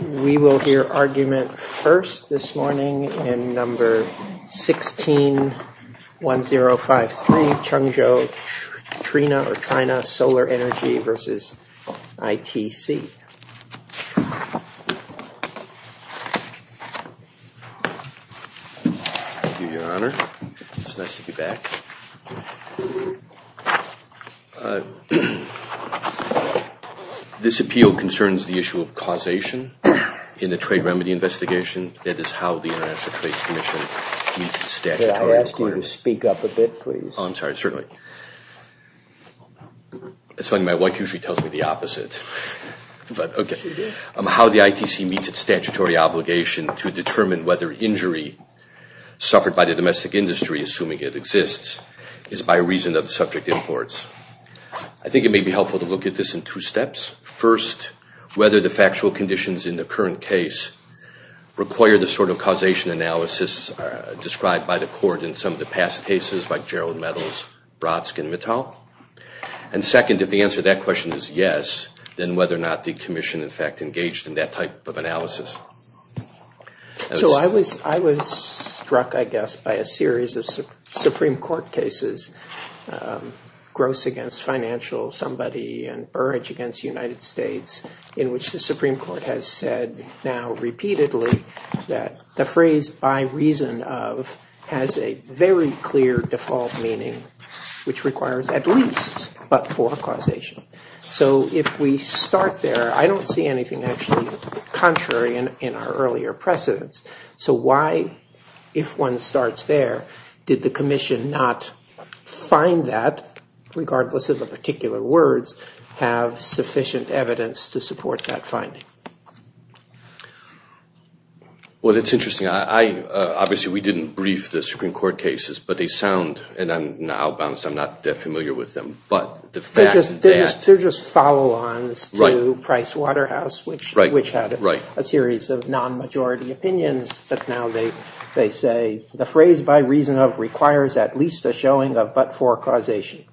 We will hear argument first this morning in number 161053, Chengzhou Trina or This appeal concerns the issue of causation in the trade remedy investigation. That is how the International Trade Commission meets its statutory requirement. I'll ask you to speak up a bit, please. I'm sorry, certainly. It's funny, my wife usually tells me the opposite. How the ITC meets its statutory obligation to determine whether injury suffered by the domestic industry, assuming it exists, is by reason of subject imports. I think it may be helpful to look at this in two steps. First, whether the factual conditions in the current case require the sort of causation analysis described by the court in some of the past cases like Gerald Meadows, Brodsky, and Mittal. And second, if the answer to that question is yes, then whether or not the commission in fact engaged in that type of analysis. So I was struck, I guess, by a series of Supreme Court cases, Gross against Financial Somebody and Burrage against United States, in which the Supreme Court has said now repeatedly that the phrase by reason of has a very clear default meaning, which requires at least but for causation. So if we start there, I don't see anything actually contrary in our earlier precedence. So why, if one starts there, did the commission not find that, regardless of the particular words, have sufficient evidence to support that finding? Well, that's interesting. Obviously, we didn't brief the Supreme Court cases, but they sound, and I'm not familiar with them. They're just follow-ons to Price Waterhouse, which had a series of non-majority opinions. But now they say the phrase by reason of requires at least a showing of but for causation.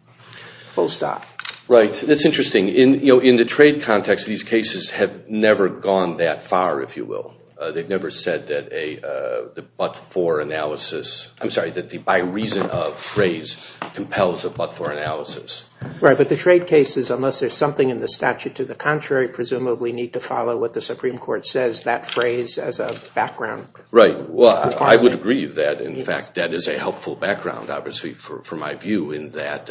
Full stop. Right. That's interesting. In the trade context, these cases have never gone that far, if you will. They've never said that the but for analysis, I'm sorry, that the by reason of phrase compels a but for analysis. Right. But the trade cases, unless there's something in the statute to the contrary, presumably need to follow what the Supreme Court says, that phrase as a background. Right. Well, I would agree that, in fact, that is a helpful background, obviously, for my view in that.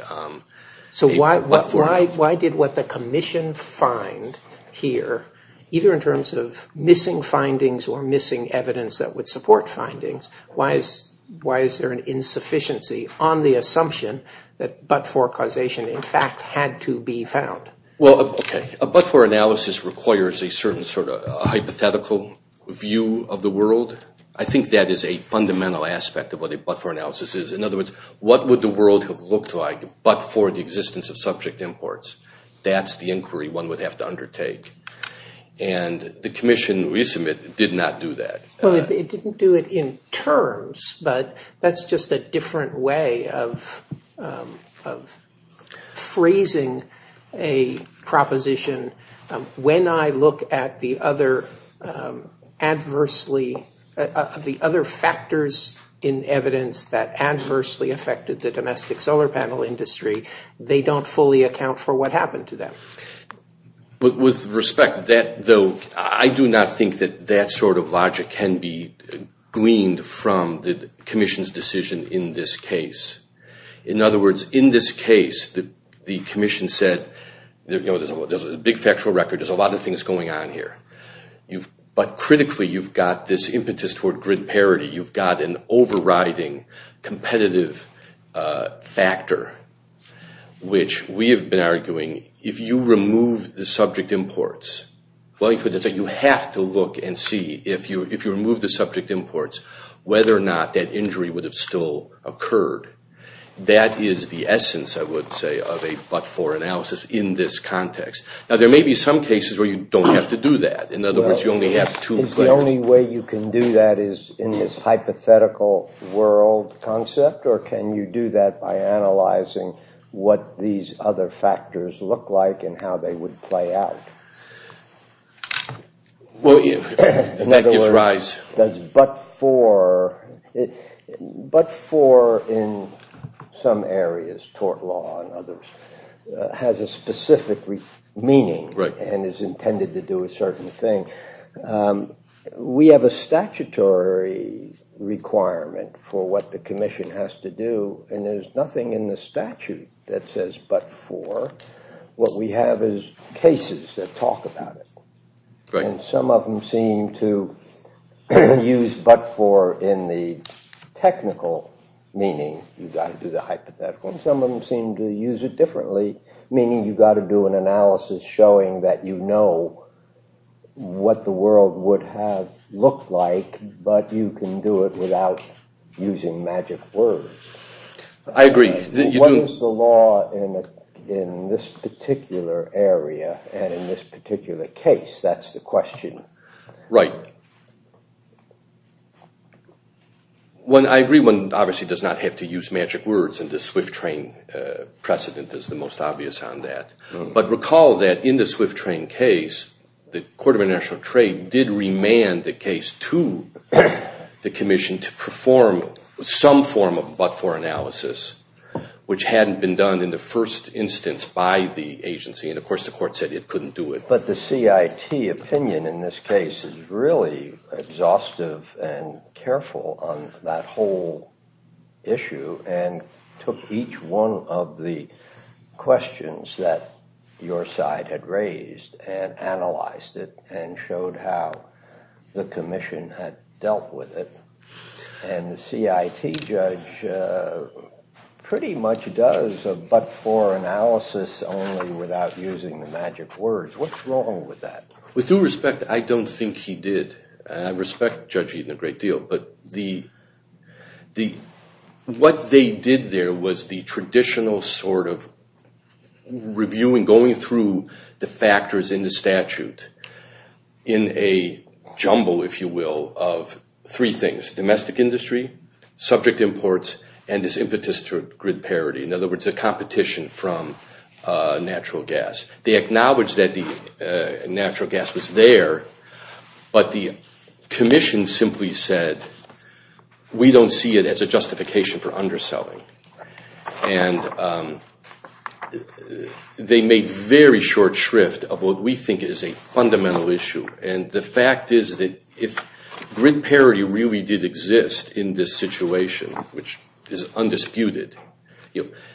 So why did what the commission find here, either in terms of missing findings or missing evidence that would support findings, why is there an insufficiency on the assumption that but for causation, in fact, had to be found? Well, a but for analysis requires a certain sort of hypothetical view of the world. I think that is a fundamental aspect of what a but for analysis is. In other words, what would the world have looked like but for the existence of subject imports? That's the inquiry one would have to undertake. And the commission, we submit, did not do that. Well, it didn't do it in terms, but that's just a different way of phrasing a proposition. When I look at the other adversely, the other factors in evidence that adversely affected the domestic solar panel industry, they don't fully account for what happened to them. With respect to that, though, I do not think that that sort of logic can be gleaned from the commission's decision in this case. In other words, in this case, the commission said, you know, there's a big factual record. There's a lot of things going on here. But critically, you've got this impetus toward grid parity. You've got an overriding competitive factor, which we have been arguing, if you remove the subject imports, you have to look and see, if you remove the subject imports, whether or not that injury would have still occurred. That is the essence, I would say, of a but for analysis in this context. Now, there may be some cases where you don't have to do that. In other words, you only have two places. Well, in other words, does but for, but for in some areas, tort law and others, has a specific meaning and is intended to do a certain thing. We have a statutory requirement for what the commission has to do. And there's nothing in the statute that says but for. What we have is cases that talk about it. And some of them seem to use but for in the technical meaning. You've got to do the hypothetical. Some of them seem to use it differently, meaning you've got to do an analysis showing that you know what the world would have looked like, but you can do it without using magic words. I agree. What is the law in this particular area and in this particular case? That's the question. Right. I agree one obviously does not have to use magic words, and the swift train precedent is the most obvious on that. But recall that in the swift train case, the Court of International Trade did remand the case to the commission to perform some form of but for analysis, which hadn't been done in the first instance by the agency. And, of course, the court said it couldn't do it. But the CIT opinion in this case is really exhaustive and careful on that whole issue and took each one of the questions that your side had raised and analyzed it and showed how the commission had dealt with it. And the CIT judge pretty much does a but for analysis only without using the magic words. What's wrong with that? With due respect, I don't think he did. I respect Judge Eaton a great deal. But what they did there was the traditional sort of reviewing, going through the factors in the statute in a jumble, if you will, of three things. Domestic industry, subject imports, and this impetus to grid parity. In other words, a competition from natural gas. They acknowledged that the natural gas was there, but the commission simply said, we don't see it as a justification for underselling. And they made very short shrift of what we think is a fundamental issue. And the fact is that if grid parity really did exist in this situation, which is undisputed,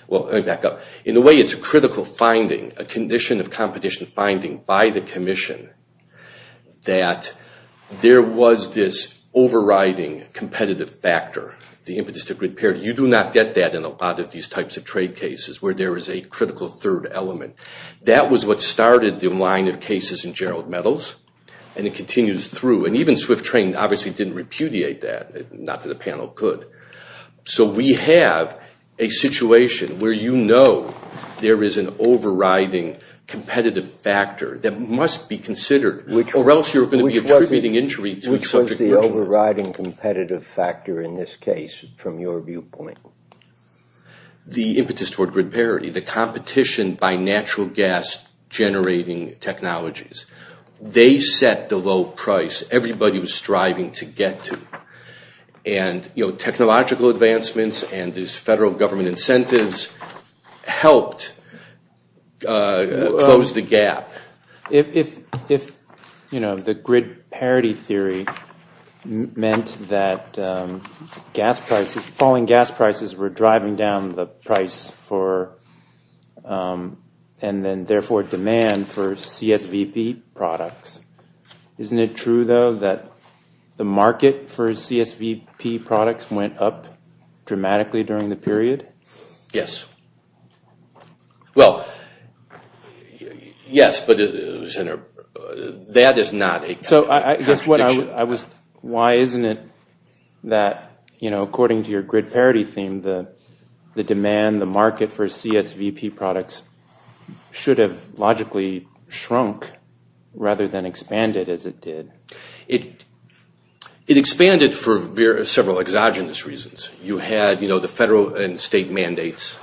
well, let me back up. In a way, it's a critical finding, a condition of competition finding by the commission that there was this overriding competitive factor, the impetus to grid parity. You do not get that in a lot of these types of trade cases where there is a critical third element. That was what started the line of cases in Gerald Metals, and it continues through. And even Swift Trade obviously didn't repudiate that, not that a panel could. So we have a situation where you know there is an overriding competitive factor that must be considered, or else you're going to be attributing injury to a subject. Which was the overriding competitive factor in this case from your viewpoint? The impetus toward grid parity, the competition by natural gas generating technologies. They set the low price everybody was striving to get to. And technological advancements and these federal government incentives helped close the gap. If the grid parity theory meant that gas prices, falling gas prices were driving down the price for and then therefore demand for CSVP products, isn't it true though that the market for CSVP products went up dramatically during the period? Yes. Well, yes, but that is not a contradiction. Why isn't it that according to your grid parity theme, the demand, the market for CSVP products should have logically shrunk rather than expanded as it did? It expanded for several exogenous reasons. You had the federal and state mandates.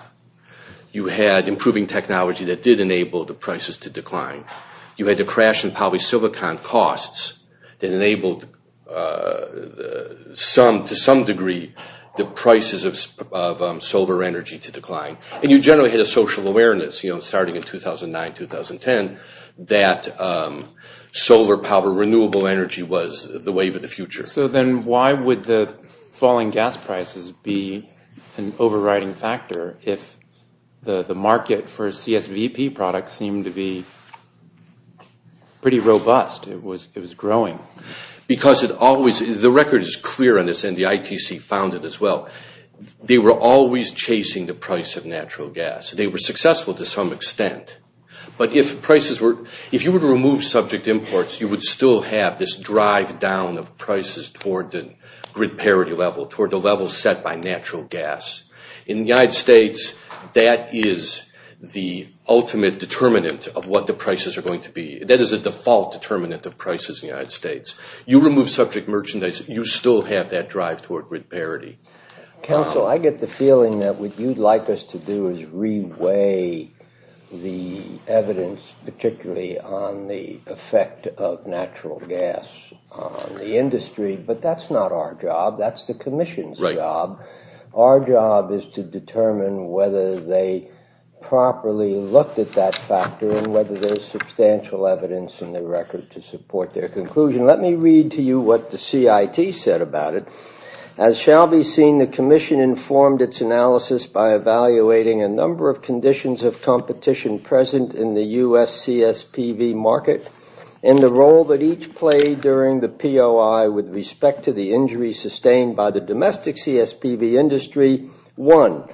You had improving technology that did enable the prices to decline. You had the crash in polysilicon costs that enabled to some degree the prices of solar energy to decline. And you generally had a social awareness starting in 2009, 2010 that solar power, renewable energy was the wave of the future. So then why would the falling gas prices be an overriding factor if the market for CSVP products seemed to be pretty robust? It was growing. Because it always – the record is clear on this and the ITC found it as well. They were always chasing the price of natural gas. They were successful to some extent. But if prices were – if you were to remove subject imports, you would still have this drive down of prices toward the grid parity level, toward the level set by natural gas. In the United States, that is the ultimate determinant of what the prices are going to be. That is a default determinant of prices in the United States. You remove subject merchandise, you still have that drive toward grid parity. Counsel, I get the feeling that what you'd like us to do is reweigh the evidence, particularly on the effect of natural gas on the industry. But that's not our job. That's the commission's job. Our job is to determine whether they properly looked at that factor and whether there's substantial evidence in the record to support their conclusion. Let me read to you what the CIT said about it. As shall be seen, the commission informed its analysis by evaluating a number of conditions of competition present in the U.S. CSPV market and the role that each played during the POI with respect to the injuries sustained by the domestic CSPV industry. One,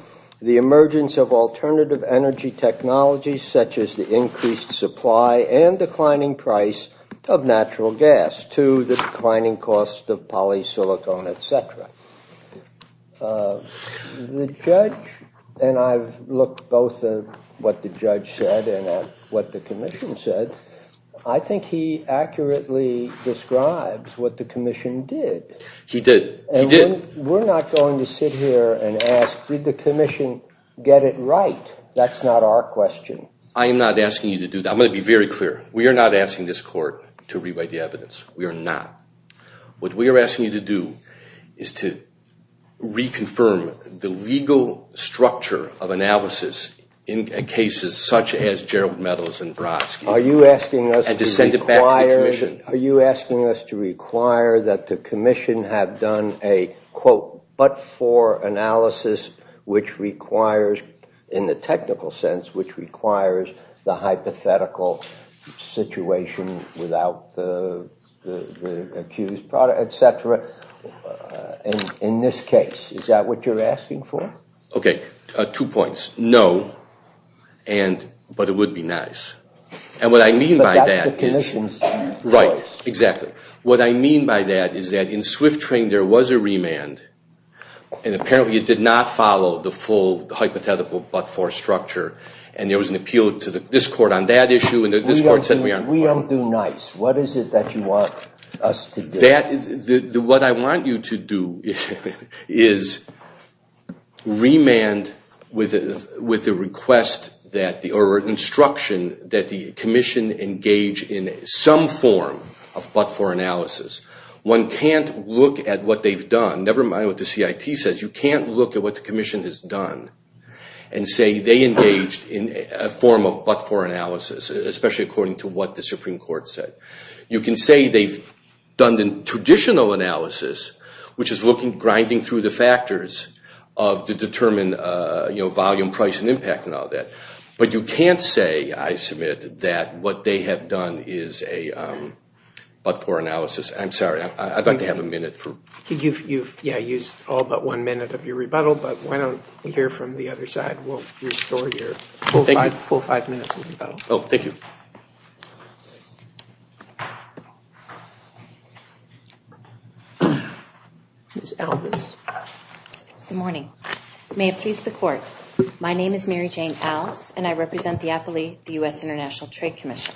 the emergence of alternative energy technologies such as the increased supply and declining price of natural gas. Two, the declining cost of polysilicon, et cetera. The judge, and I've looked both at what the judge said and at what the commission said, I think he accurately describes what the commission did. He did. He did. And we're not going to sit here and ask, did the commission get it right? That's not our question. I am not asking you to do that. I'm going to be very clear. We are not asking this court to rewrite the evidence. We are not. What we are asking you to do is to reconfirm the legal structure of analysis in cases such as Gerald Meadows and Brodsky. Are you asking us to require that the commission have done a, quote, but for analysis which requires, in the technical sense, which requires the hypothetical situation without the accused, et cetera, in this case? Is that what you're asking for? Okay, two points. No, but it would be nice. And what I mean by that is... But that's the commission's choice. Right, exactly. What I mean by that is that in Swift Train there was a remand, and apparently it did not follow the full hypothetical but-for structure, and there was an appeal to this court on that issue, and this court said we aren't... We don't do nice. What is it that you want us to do? What I want you to do is remand with the request or instruction that the commission engage in some form of but-for analysis. One can't look at what they've done, never mind what the CIT says. You can't look at what the commission has done and say they engaged in a form of but-for analysis, especially according to what the Supreme Court said. You can say they've done the traditional analysis, which is looking, grinding through the factors to determine volume, price, and impact, and all that. But you can't say, I submit, that what they have done is a but-for analysis. I'm sorry. I'd like to have a minute for... You've used all but one minute of your rebuttal, but why don't we hear from the other side? We'll restore your full five minutes of rebuttal. Thank you. Thank you. Ms. Alvis. Good morning. May it please the Court, my name is Mary Jane Alvis, and I represent the U.S. International Trade Commission.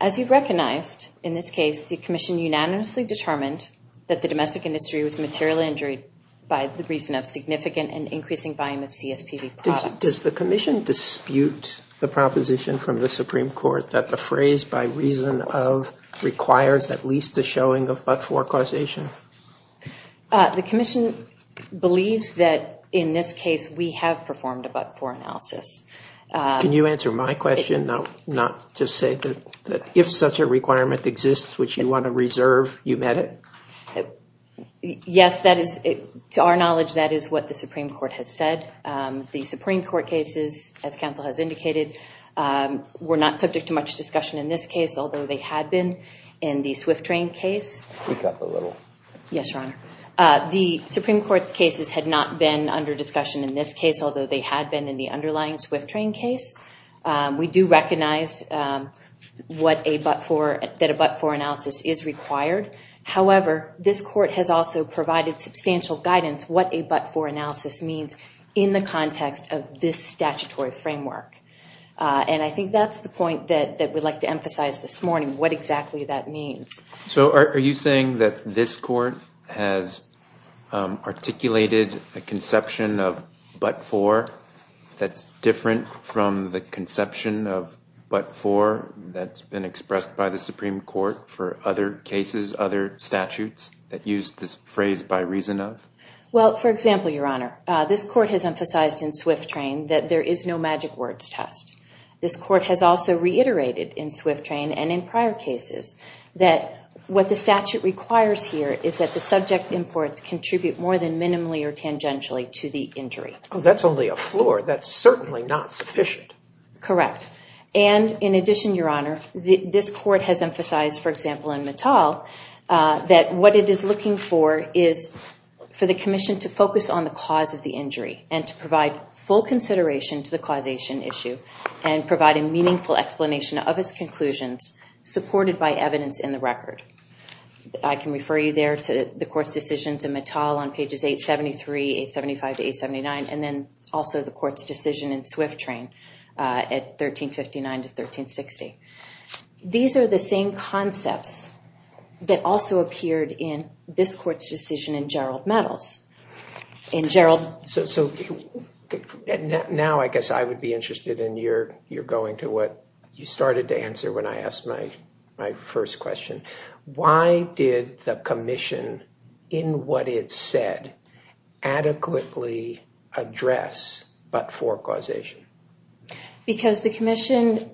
As you've recognized, in this case, the commission unanimously determined that the domestic industry was materially injured by the reason of significant and increasing volume of CSPB products. Does the commission dispute the proposition from the Supreme Court that the phrase by reason of requires at least a showing of but-for causation? The commission believes that, in this case, we have performed a but-for analysis. Can you answer my question, not just say that if such a requirement exists, which you want to reserve, you met it? Yes, to our knowledge, that is what the Supreme Court has said. The Supreme Court cases, as counsel has indicated, were not subject to much discussion in this case, although they had been in the Swift train case. Speak up a little. Yes, Your Honor. The Supreme Court's cases had not been under discussion in this case, although they had been in the underlying Swift train case. We do recognize that a but-for analysis is required. However, this court has also provided substantial guidance what a but-for analysis means in the context of this statutory framework. And I think that's the point that we'd like to emphasize this morning, what exactly that means. So are you saying that this court has articulated a conception of but-for that's different from the conception of but-for that's been expressed by the Supreme Court for other cases, other statutes that use this phrase by reason of? Well, for example, Your Honor, this court has emphasized in Swift train that there is no magic words test. This court has also reiterated in Swift train and in prior cases that what the statute requires here is that the subject imports contribute more than minimally or tangentially to the injury. That's only a floor. That's certainly not sufficient. Correct. And in addition, Your Honor, this court has emphasized, for example, in Mittal, that what it is looking for is for the commission to focus on the cause of the injury and to provide full consideration to the causation issue and provide a meaningful explanation of its conclusions supported by evidence in the record. I can refer you there to the court's decisions in Mittal on pages 873, 875 to 879, and then also the court's decision in Swift train at 1359 to 1360. These are the same concepts that also appeared in this court's decision in Gerald Mittal's. So now I guess I would be interested in your going to what you started to answer when I asked my first question. Why did the commission, in what it said, adequately address but-for causation? Because the commission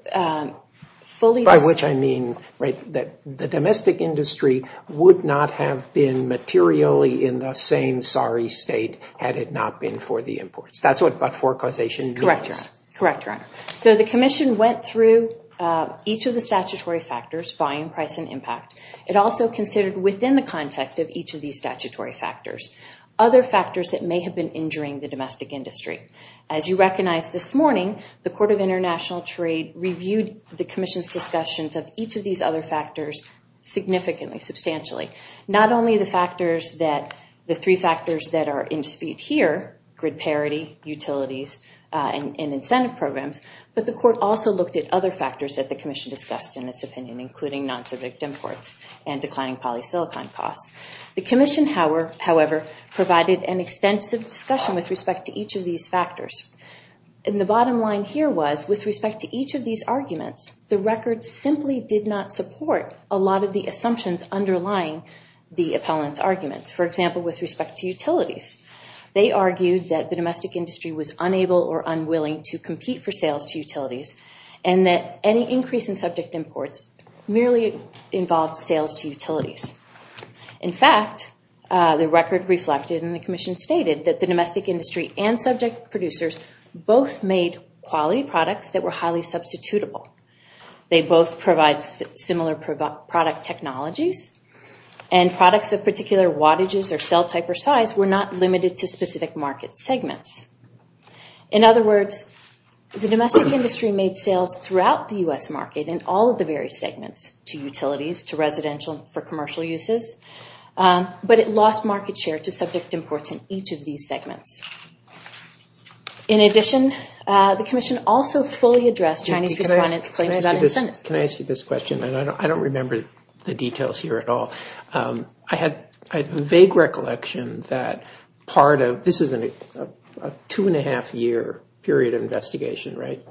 fully— By which I mean that the domestic industry would not have been materially in the same sorry state had it not been for the imports. That's what but-for causation means. Correct, Your Honor. So the commission went through each of the statutory factors, volume, price, and impact. It also considered within the context of each of these statutory factors other factors that may have been injuring the domestic industry. As you recognize this morning, the Court of International Trade reviewed the commission's discussions of each of these other factors significantly, substantially. Not only the factors that—the three factors that are in dispute here, grid parity, utilities, and incentive programs, but the court also looked at other factors that the commission discussed in its opinion, including non-subject imports and declining polysilicon costs. The commission, however, provided an extensive discussion with respect to each of these factors. And the bottom line here was with respect to each of these arguments, the record simply did not support a lot of the assumptions underlying the appellant's arguments. For example, with respect to utilities. They argued that the domestic industry was unable or unwilling to compete for sales to utilities and that any increase in subject imports merely involved sales to utilities. In fact, the record reflected and the commission stated that the domestic industry and subject producers both made quality products that were highly substitutable. They both provide similar product technologies and products of particular wattages or cell type or size were not limited to specific market segments. In other words, the domestic industry made sales throughout the U.S. market in all of the various segments to utilities, to residential, for commercial uses, but it lost market share to subject imports in each of these segments. In addition, the commission also fully addressed Chinese respondents' claims about incentives. Can I ask you this question? I don't remember the details here at all. I had a vague recollection that part of, this is a two and a half year period of investigation, right?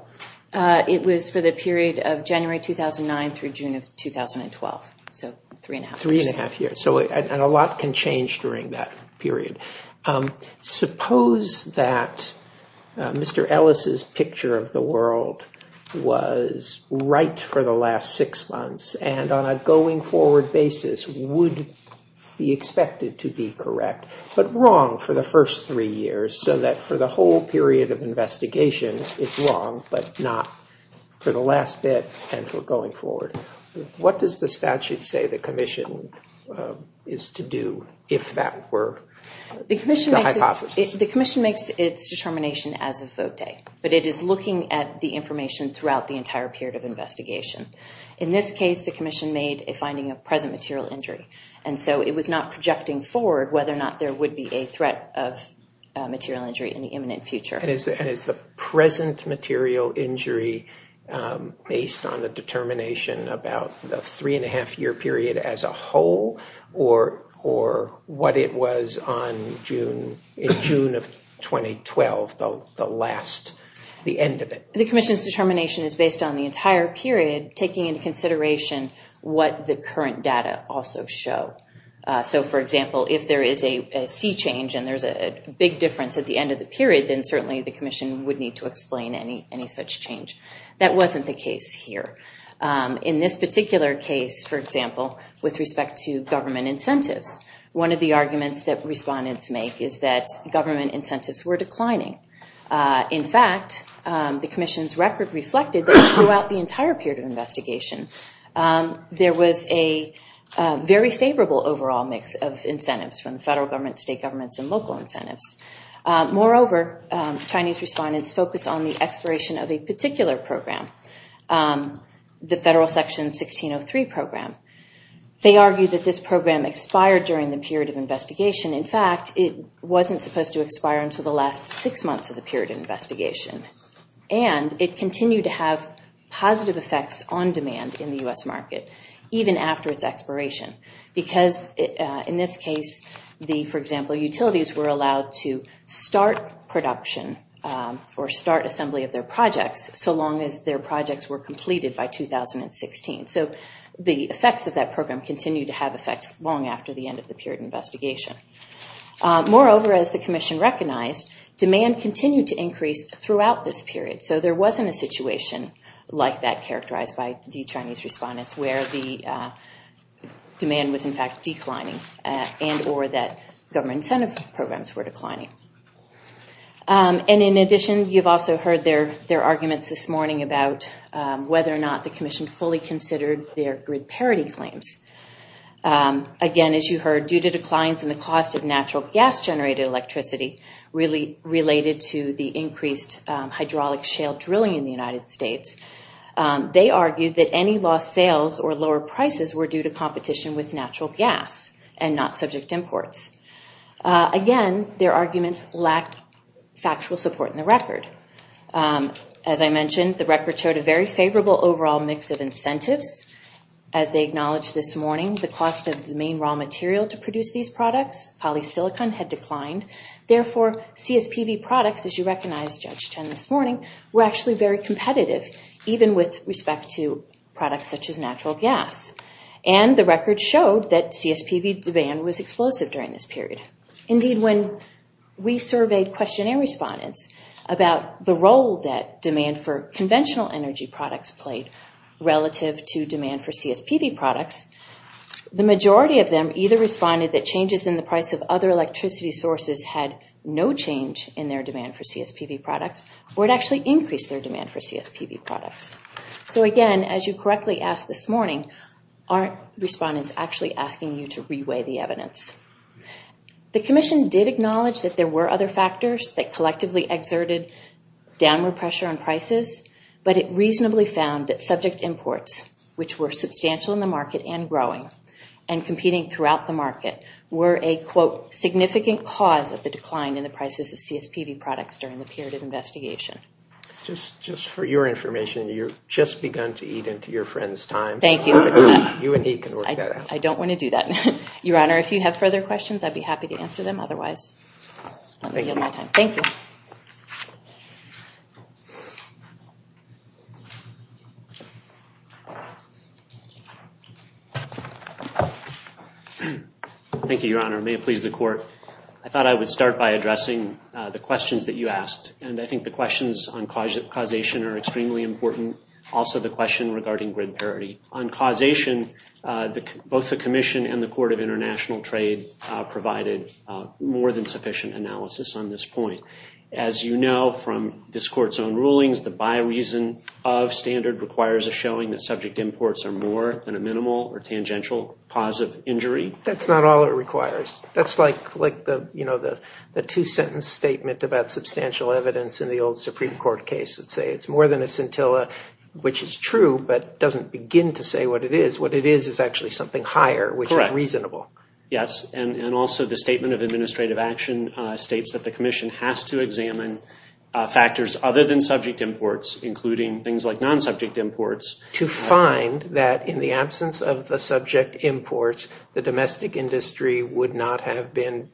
It was for the period of January 2009 through June of 2012, so three and a half years. Three and a half years, and a lot can change during that period. Suppose that Mr. Ellis' picture of the world was right for the last six months and on a going forward basis would be expected to be correct, but wrong for the first three years so that for the whole period of investigation, it's wrong, but not for the last bit and for going forward. What does the statute say the commission is to do if that were the hypothesis? The commission makes its determination as of vote day, but it is looking at the information throughout the entire period of investigation. In this case, the commission made a finding of present material injury, and so it was not projecting forward whether or not there would be a threat of material injury in the imminent future. Is the present material injury based on the determination about the three and a half year period as a whole or what it was in June of 2012, the end of it? The commission's determination is based on the entire period, taking into consideration what the current data also show. For example, if there is a sea change and there's a big difference at the end of the period, then certainly the commission would need to explain any such change. That wasn't the case here. In this particular case, for example, with respect to government incentives, one of the arguments that respondents make is that government incentives were declining. In fact, the commission's record reflected that throughout the entire period of investigation, there was a very favorable overall mix of incentives from federal government, state governments, and local incentives. Moreover, Chinese respondents focus on the expiration of a particular program, the Federal Section 1603 program. They argue that this program expired during the period of investigation. In fact, it wasn't supposed to expire until the last six months of the period of investigation, and it continued to have positive effects on demand in the U.S. market even after its expiration because in this case, for example, utilities were allowed to start production or start assembly of their projects so long as their projects were completed by 2016. So the effects of that program continued to have effects long after the end of the period of investigation. Moreover, as the commission recognized, demand continued to increase throughout this period. So there wasn't a situation like that characterized by the Chinese respondents where the demand was in fact declining and or that government incentive programs were declining. And in addition, you've also heard their arguments this morning about whether or not the commission fully considered their grid parity claims. Again, as you heard, due to declines in the cost of natural gas-generated electricity really related to the increased hydraulic shale drilling in the United States, they argued that any lost sales or lower prices were due to competition with natural gas and not subject imports. Again, their arguments lacked factual support in the record. As I mentioned, the record showed a very favorable overall mix of incentives. As they acknowledged this morning, the cost of the main raw material to produce these products, polysilicon, had declined. Therefore, CSPV products, as you recognized, Judge Chen, this morning, were actually very competitive, even with respect to products such as natural gas. And the record showed that CSPV demand was explosive during this period. Indeed, when we surveyed questionnaire respondents about the role that demand for conventional energy products played relative to demand for CSPV products, the majority of them either responded that changes in the price of other electricity sources had no change in their demand for CSPV products or it actually increased their demand for CSPV products. So again, as you correctly asked this morning, aren't respondents actually asking you to reweigh the evidence? The commission did acknowledge that there were other factors that collectively exerted downward pressure on prices, but it reasonably found that subject imports, which were substantial in the market and growing and competing throughout the market, were a, quote, significant cause of the decline in the prices of CSPV products during the period of investigation. Just for your information, you've just begun to eat into your friend's time. Thank you. You and he can work that out. I don't want to do that. Your Honor, if you have further questions, I'd be happy to answer them. Otherwise, let me yield my time. Thank you. Thank you, Your Honor. May it please the Court. I thought I would start by addressing the questions that you asked, and I think the questions on causation are extremely important. Also, the question regarding grid parity. On causation, both the commission and the Court of International Trade provided more than sufficient analysis on this point. As you know from this Court's own rulings, the by reason of standard requires a showing that subject imports are more than a minimal or tangential cause of injury. That's not all it requires. That's like the two-sentence statement about substantial evidence in the old Supreme Court case that say it's more than a scintilla, which is true, but doesn't begin to say what it is. What it is is actually something higher, which is reasonable. Correct. Yes, and also the Statement of Administrative Action states that the commission has to examine factors other than subject imports, including things like non-subject imports. To find that in the absence of the subject imports, the domestic industry would not have been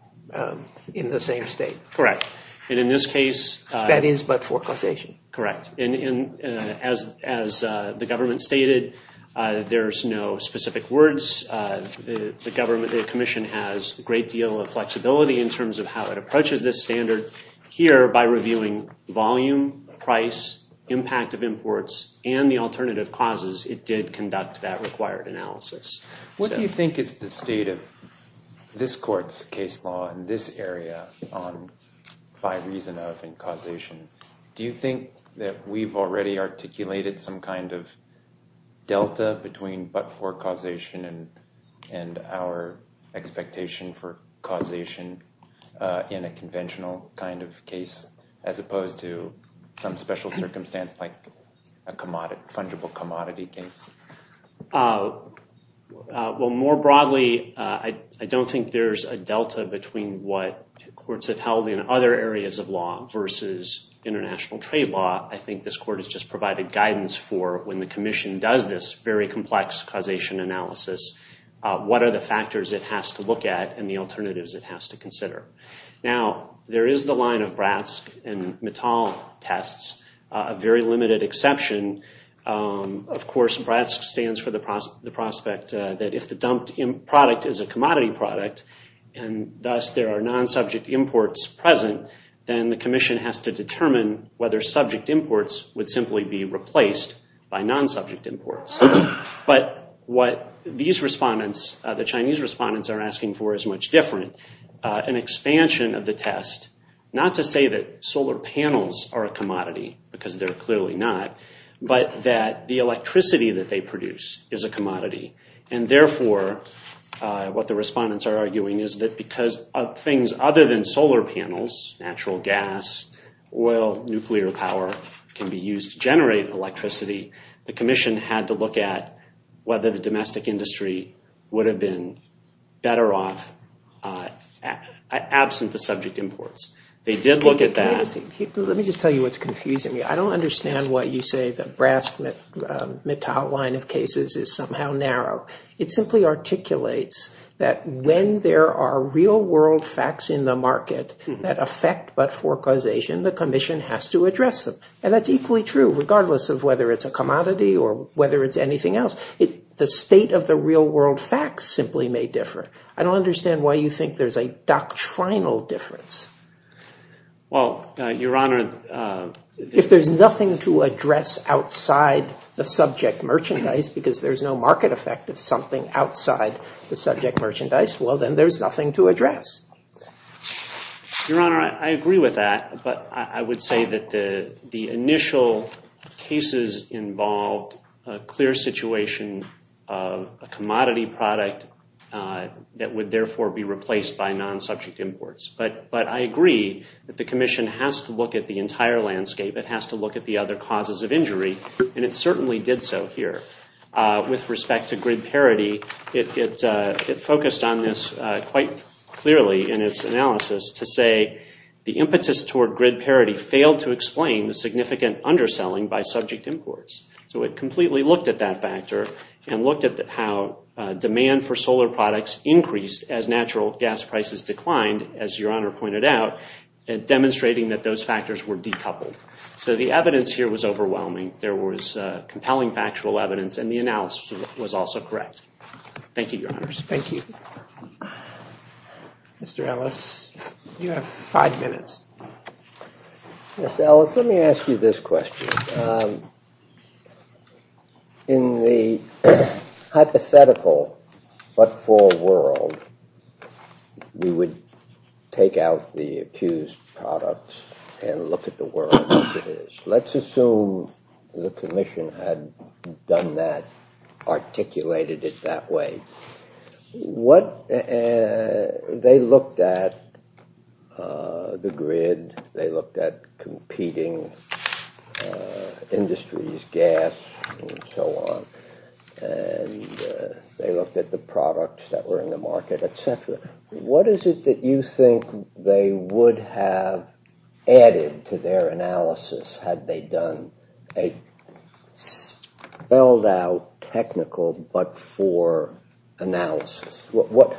in the same state. Correct. And in this case. That is but for causation. Correct. And as the government stated, there's no specific words. The commission has a great deal of flexibility in terms of how it approaches this standard here by reviewing volume, price, impact of imports, and the alternative causes it did conduct that required analysis. What do you think is the state of this court's case law in this area on by reason of and causation? Do you think that we've already articulated some kind of delta between but for causation and our expectation for causation in a conventional kind of case, as opposed to some special circumstance like a fungible commodity case? Well, more broadly, I don't think there's a delta between what courts have held in other areas of law versus international trade law. I think this court has just provided guidance for when the commission does this very complex causation analysis, what are the factors it has to look at and the alternatives it has to consider. Now, there is the line of BRATS and Mital tests, a very limited exception. Of course, BRATS stands for the prospect that if the dumped product is a commodity product and thus there are non-subject imports present, then the commission has to determine whether subject imports would simply be replaced by non-subject imports. But what these respondents, the Chinese respondents, are asking for is much different. An expansion of the test, not to say that solar panels are a commodity because they're clearly not, but that the electricity that they produce is a commodity. And therefore, what the respondents are arguing is that because of things other than solar panels, natural gas, oil, nuclear power can be used to generate electricity, the commission had to look at whether the domestic industry would have been better off absent the subject imports. They did look at that. Let me just tell you what's confusing me. I don't understand why you say the BRATS-Mital line of cases is somehow narrow. It simply articulates that when there are real-world facts in the market that affect but for causation, the commission has to address them. And that's equally true regardless of whether it's a commodity or whether it's anything else. The state of the real-world facts simply may differ. I don't understand why you think there's a doctrinal difference. Well, Your Honor, If there's nothing to address outside the subject merchandise, because there's no market effect of something outside the subject merchandise, well, then there's nothing to address. Your Honor, I agree with that. But I would say that the initial cases involved a clear situation of a commodity product that would therefore be replaced by non-subject imports. But I agree that the commission has to look at the entire landscape. It has to look at the other causes of injury. And it certainly did so here. With respect to grid parity, it focused on this quite clearly in its analysis to say, the impetus toward grid parity failed to explain the significant underselling by subject imports. So it completely looked at that factor and looked at how demand for solar products increased as natural gas prices declined, as Your Honor pointed out, demonstrating that those factors were decoupled. So the evidence here was overwhelming. There was compelling factual evidence, and the analysis was also correct. Thank you, Your Honors. Thank you. Mr. Ellis, you have five minutes. Mr. Ellis, let me ask you this question. In the hypothetical but full world, we would take out the accused product and look at the world as it is. Let's assume the commission had done that, articulated it that way. They looked at the grid. They looked at competing industries, gas and so on. And they looked at the products that were in the market, et cetera. What is it that you think they would have added to their analysis had they done a spelled out technical but for analysis? What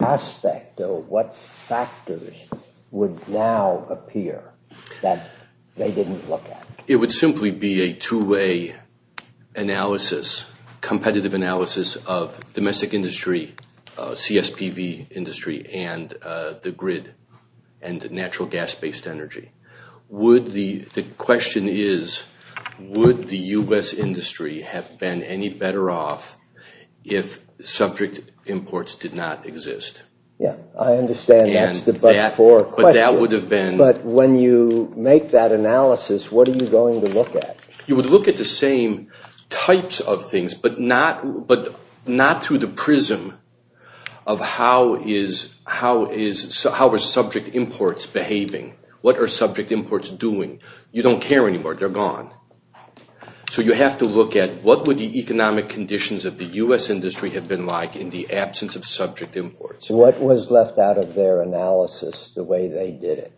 aspect or what factors would now appear that they didn't look at? It would simply be a two-way analysis, competitive analysis of domestic industry, CSPV industry and the grid and natural gas-based energy. The question is, would the U.S. industry have been any better off if subject imports did not exist? Yes, I understand that's the but for a question. But that would have been – But when you make that analysis, what are you going to look at? You would look at the same types of things but not through the prism of how are subject imports behaving. What are subject imports doing? You don't care anymore. They're gone. So you have to look at what would the economic conditions of the U.S. industry have been like in the absence of subject imports. What was left out of their analysis the way they did it?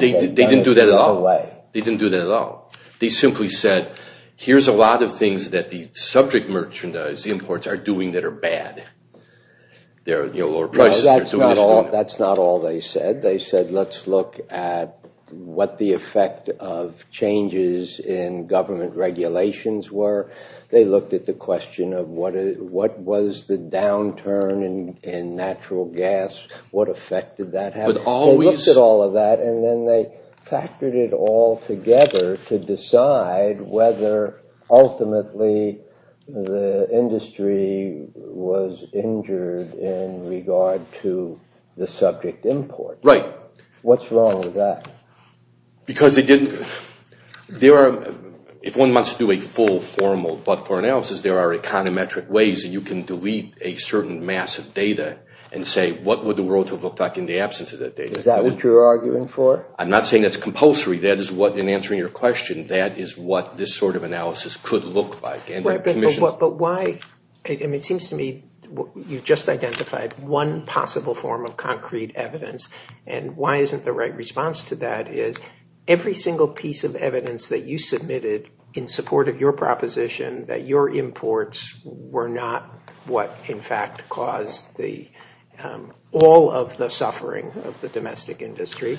They didn't do that at all. They simply said, here's a lot of things that the subject merchandise imports are doing that are bad. They're lower prices. That's not all they said. They said, let's look at what the effect of changes in government regulations were. They looked at the question of what was the downturn in natural gas, what effect did that have? They looked at all of that, and then they factored it all together to decide whether ultimately the industry was injured in regard to the subject imports. Right. What's wrong with that? Because they didn't – if one wants to do a full formal but for analysis, there are econometric ways that you can delete a certain mass of data and say what would the world have looked like in the absence of that data. Is that what you're arguing for? I'm not saying that's compulsory. That is what, in answering your question, that is what this sort of analysis could look like. But why – it seems to me you've just identified one possible form of concrete evidence, and why isn't the right response to that is every single piece of evidence that you submitted in support of your proposition that your imports were not what, in fact, caused all of the suffering of the domestic industry.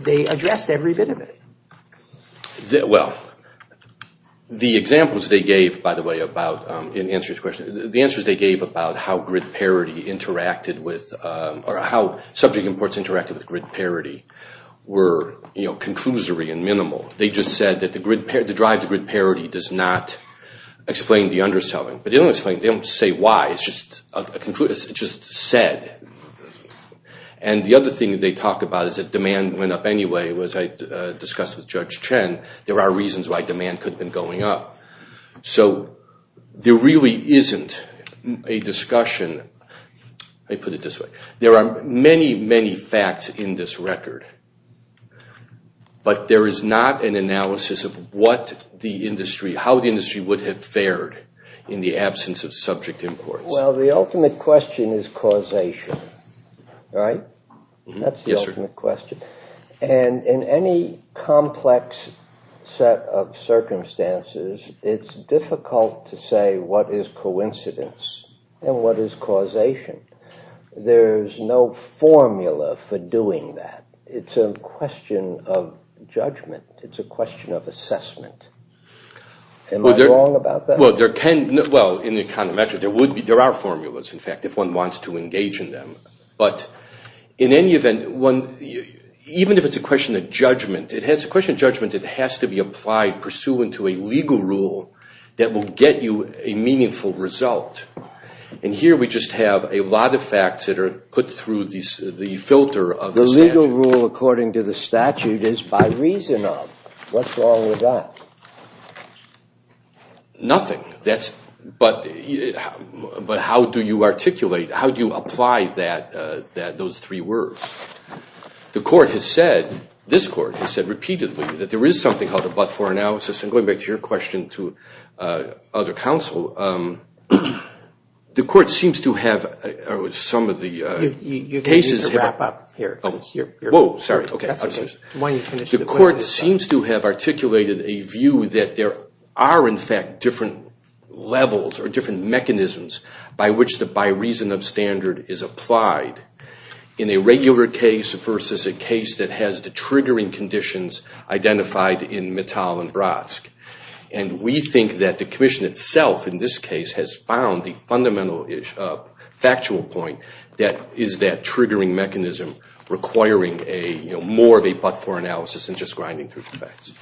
They addressed every bit of it. Well, the examples they gave, by the way, about – in answering this question – the answers they gave about how grid parity interacted with – or how subject imports interacted with grid parity were conclusory and minimal. They just said that the drive to grid parity does not explain the underselling. But they don't explain it. They don't say why. It's just said. And the other thing that they talk about is that demand went up anyway, as I discussed with Judge Chen. There are reasons why demand could have been going up. So there really isn't a discussion – let me put it this way. There are many, many facts in this record. But there is not an analysis of what the industry – how the industry would have fared in the absence of subject imports. Well, the ultimate question is causation, right? That's the ultimate question. And in any complex set of circumstances, it's difficult to say what is coincidence and what is causation. There's no formula for doing that. It's a question of judgment. It's a question of assessment. Am I wrong about that? Well, there are formulas, in fact, if one wants to engage in them. But in any event, even if it's a question of judgment, it has to be applied pursuant to a legal rule that will get you a meaningful result. And here we just have a lot of facts that are put through the filter of the statute. The legal rule according to the statute is by reason of. What's wrong with that? Nothing. But how do you articulate, how do you apply those three words? The court has said, this court has said repeatedly, that there is something called a but-for analysis. And going back to your question to other counsel, the court seems to have articulated a view that there are, in fact, different levels or different mechanisms by which the by reason of standard is applied in a regular case versus a case that has the triggering conditions identified in Mittal and Brodsky. And we think that the commission itself in this case has found the fundamental factual point that is that triggering mechanism requiring more of a but-for analysis than just grinding through the facts.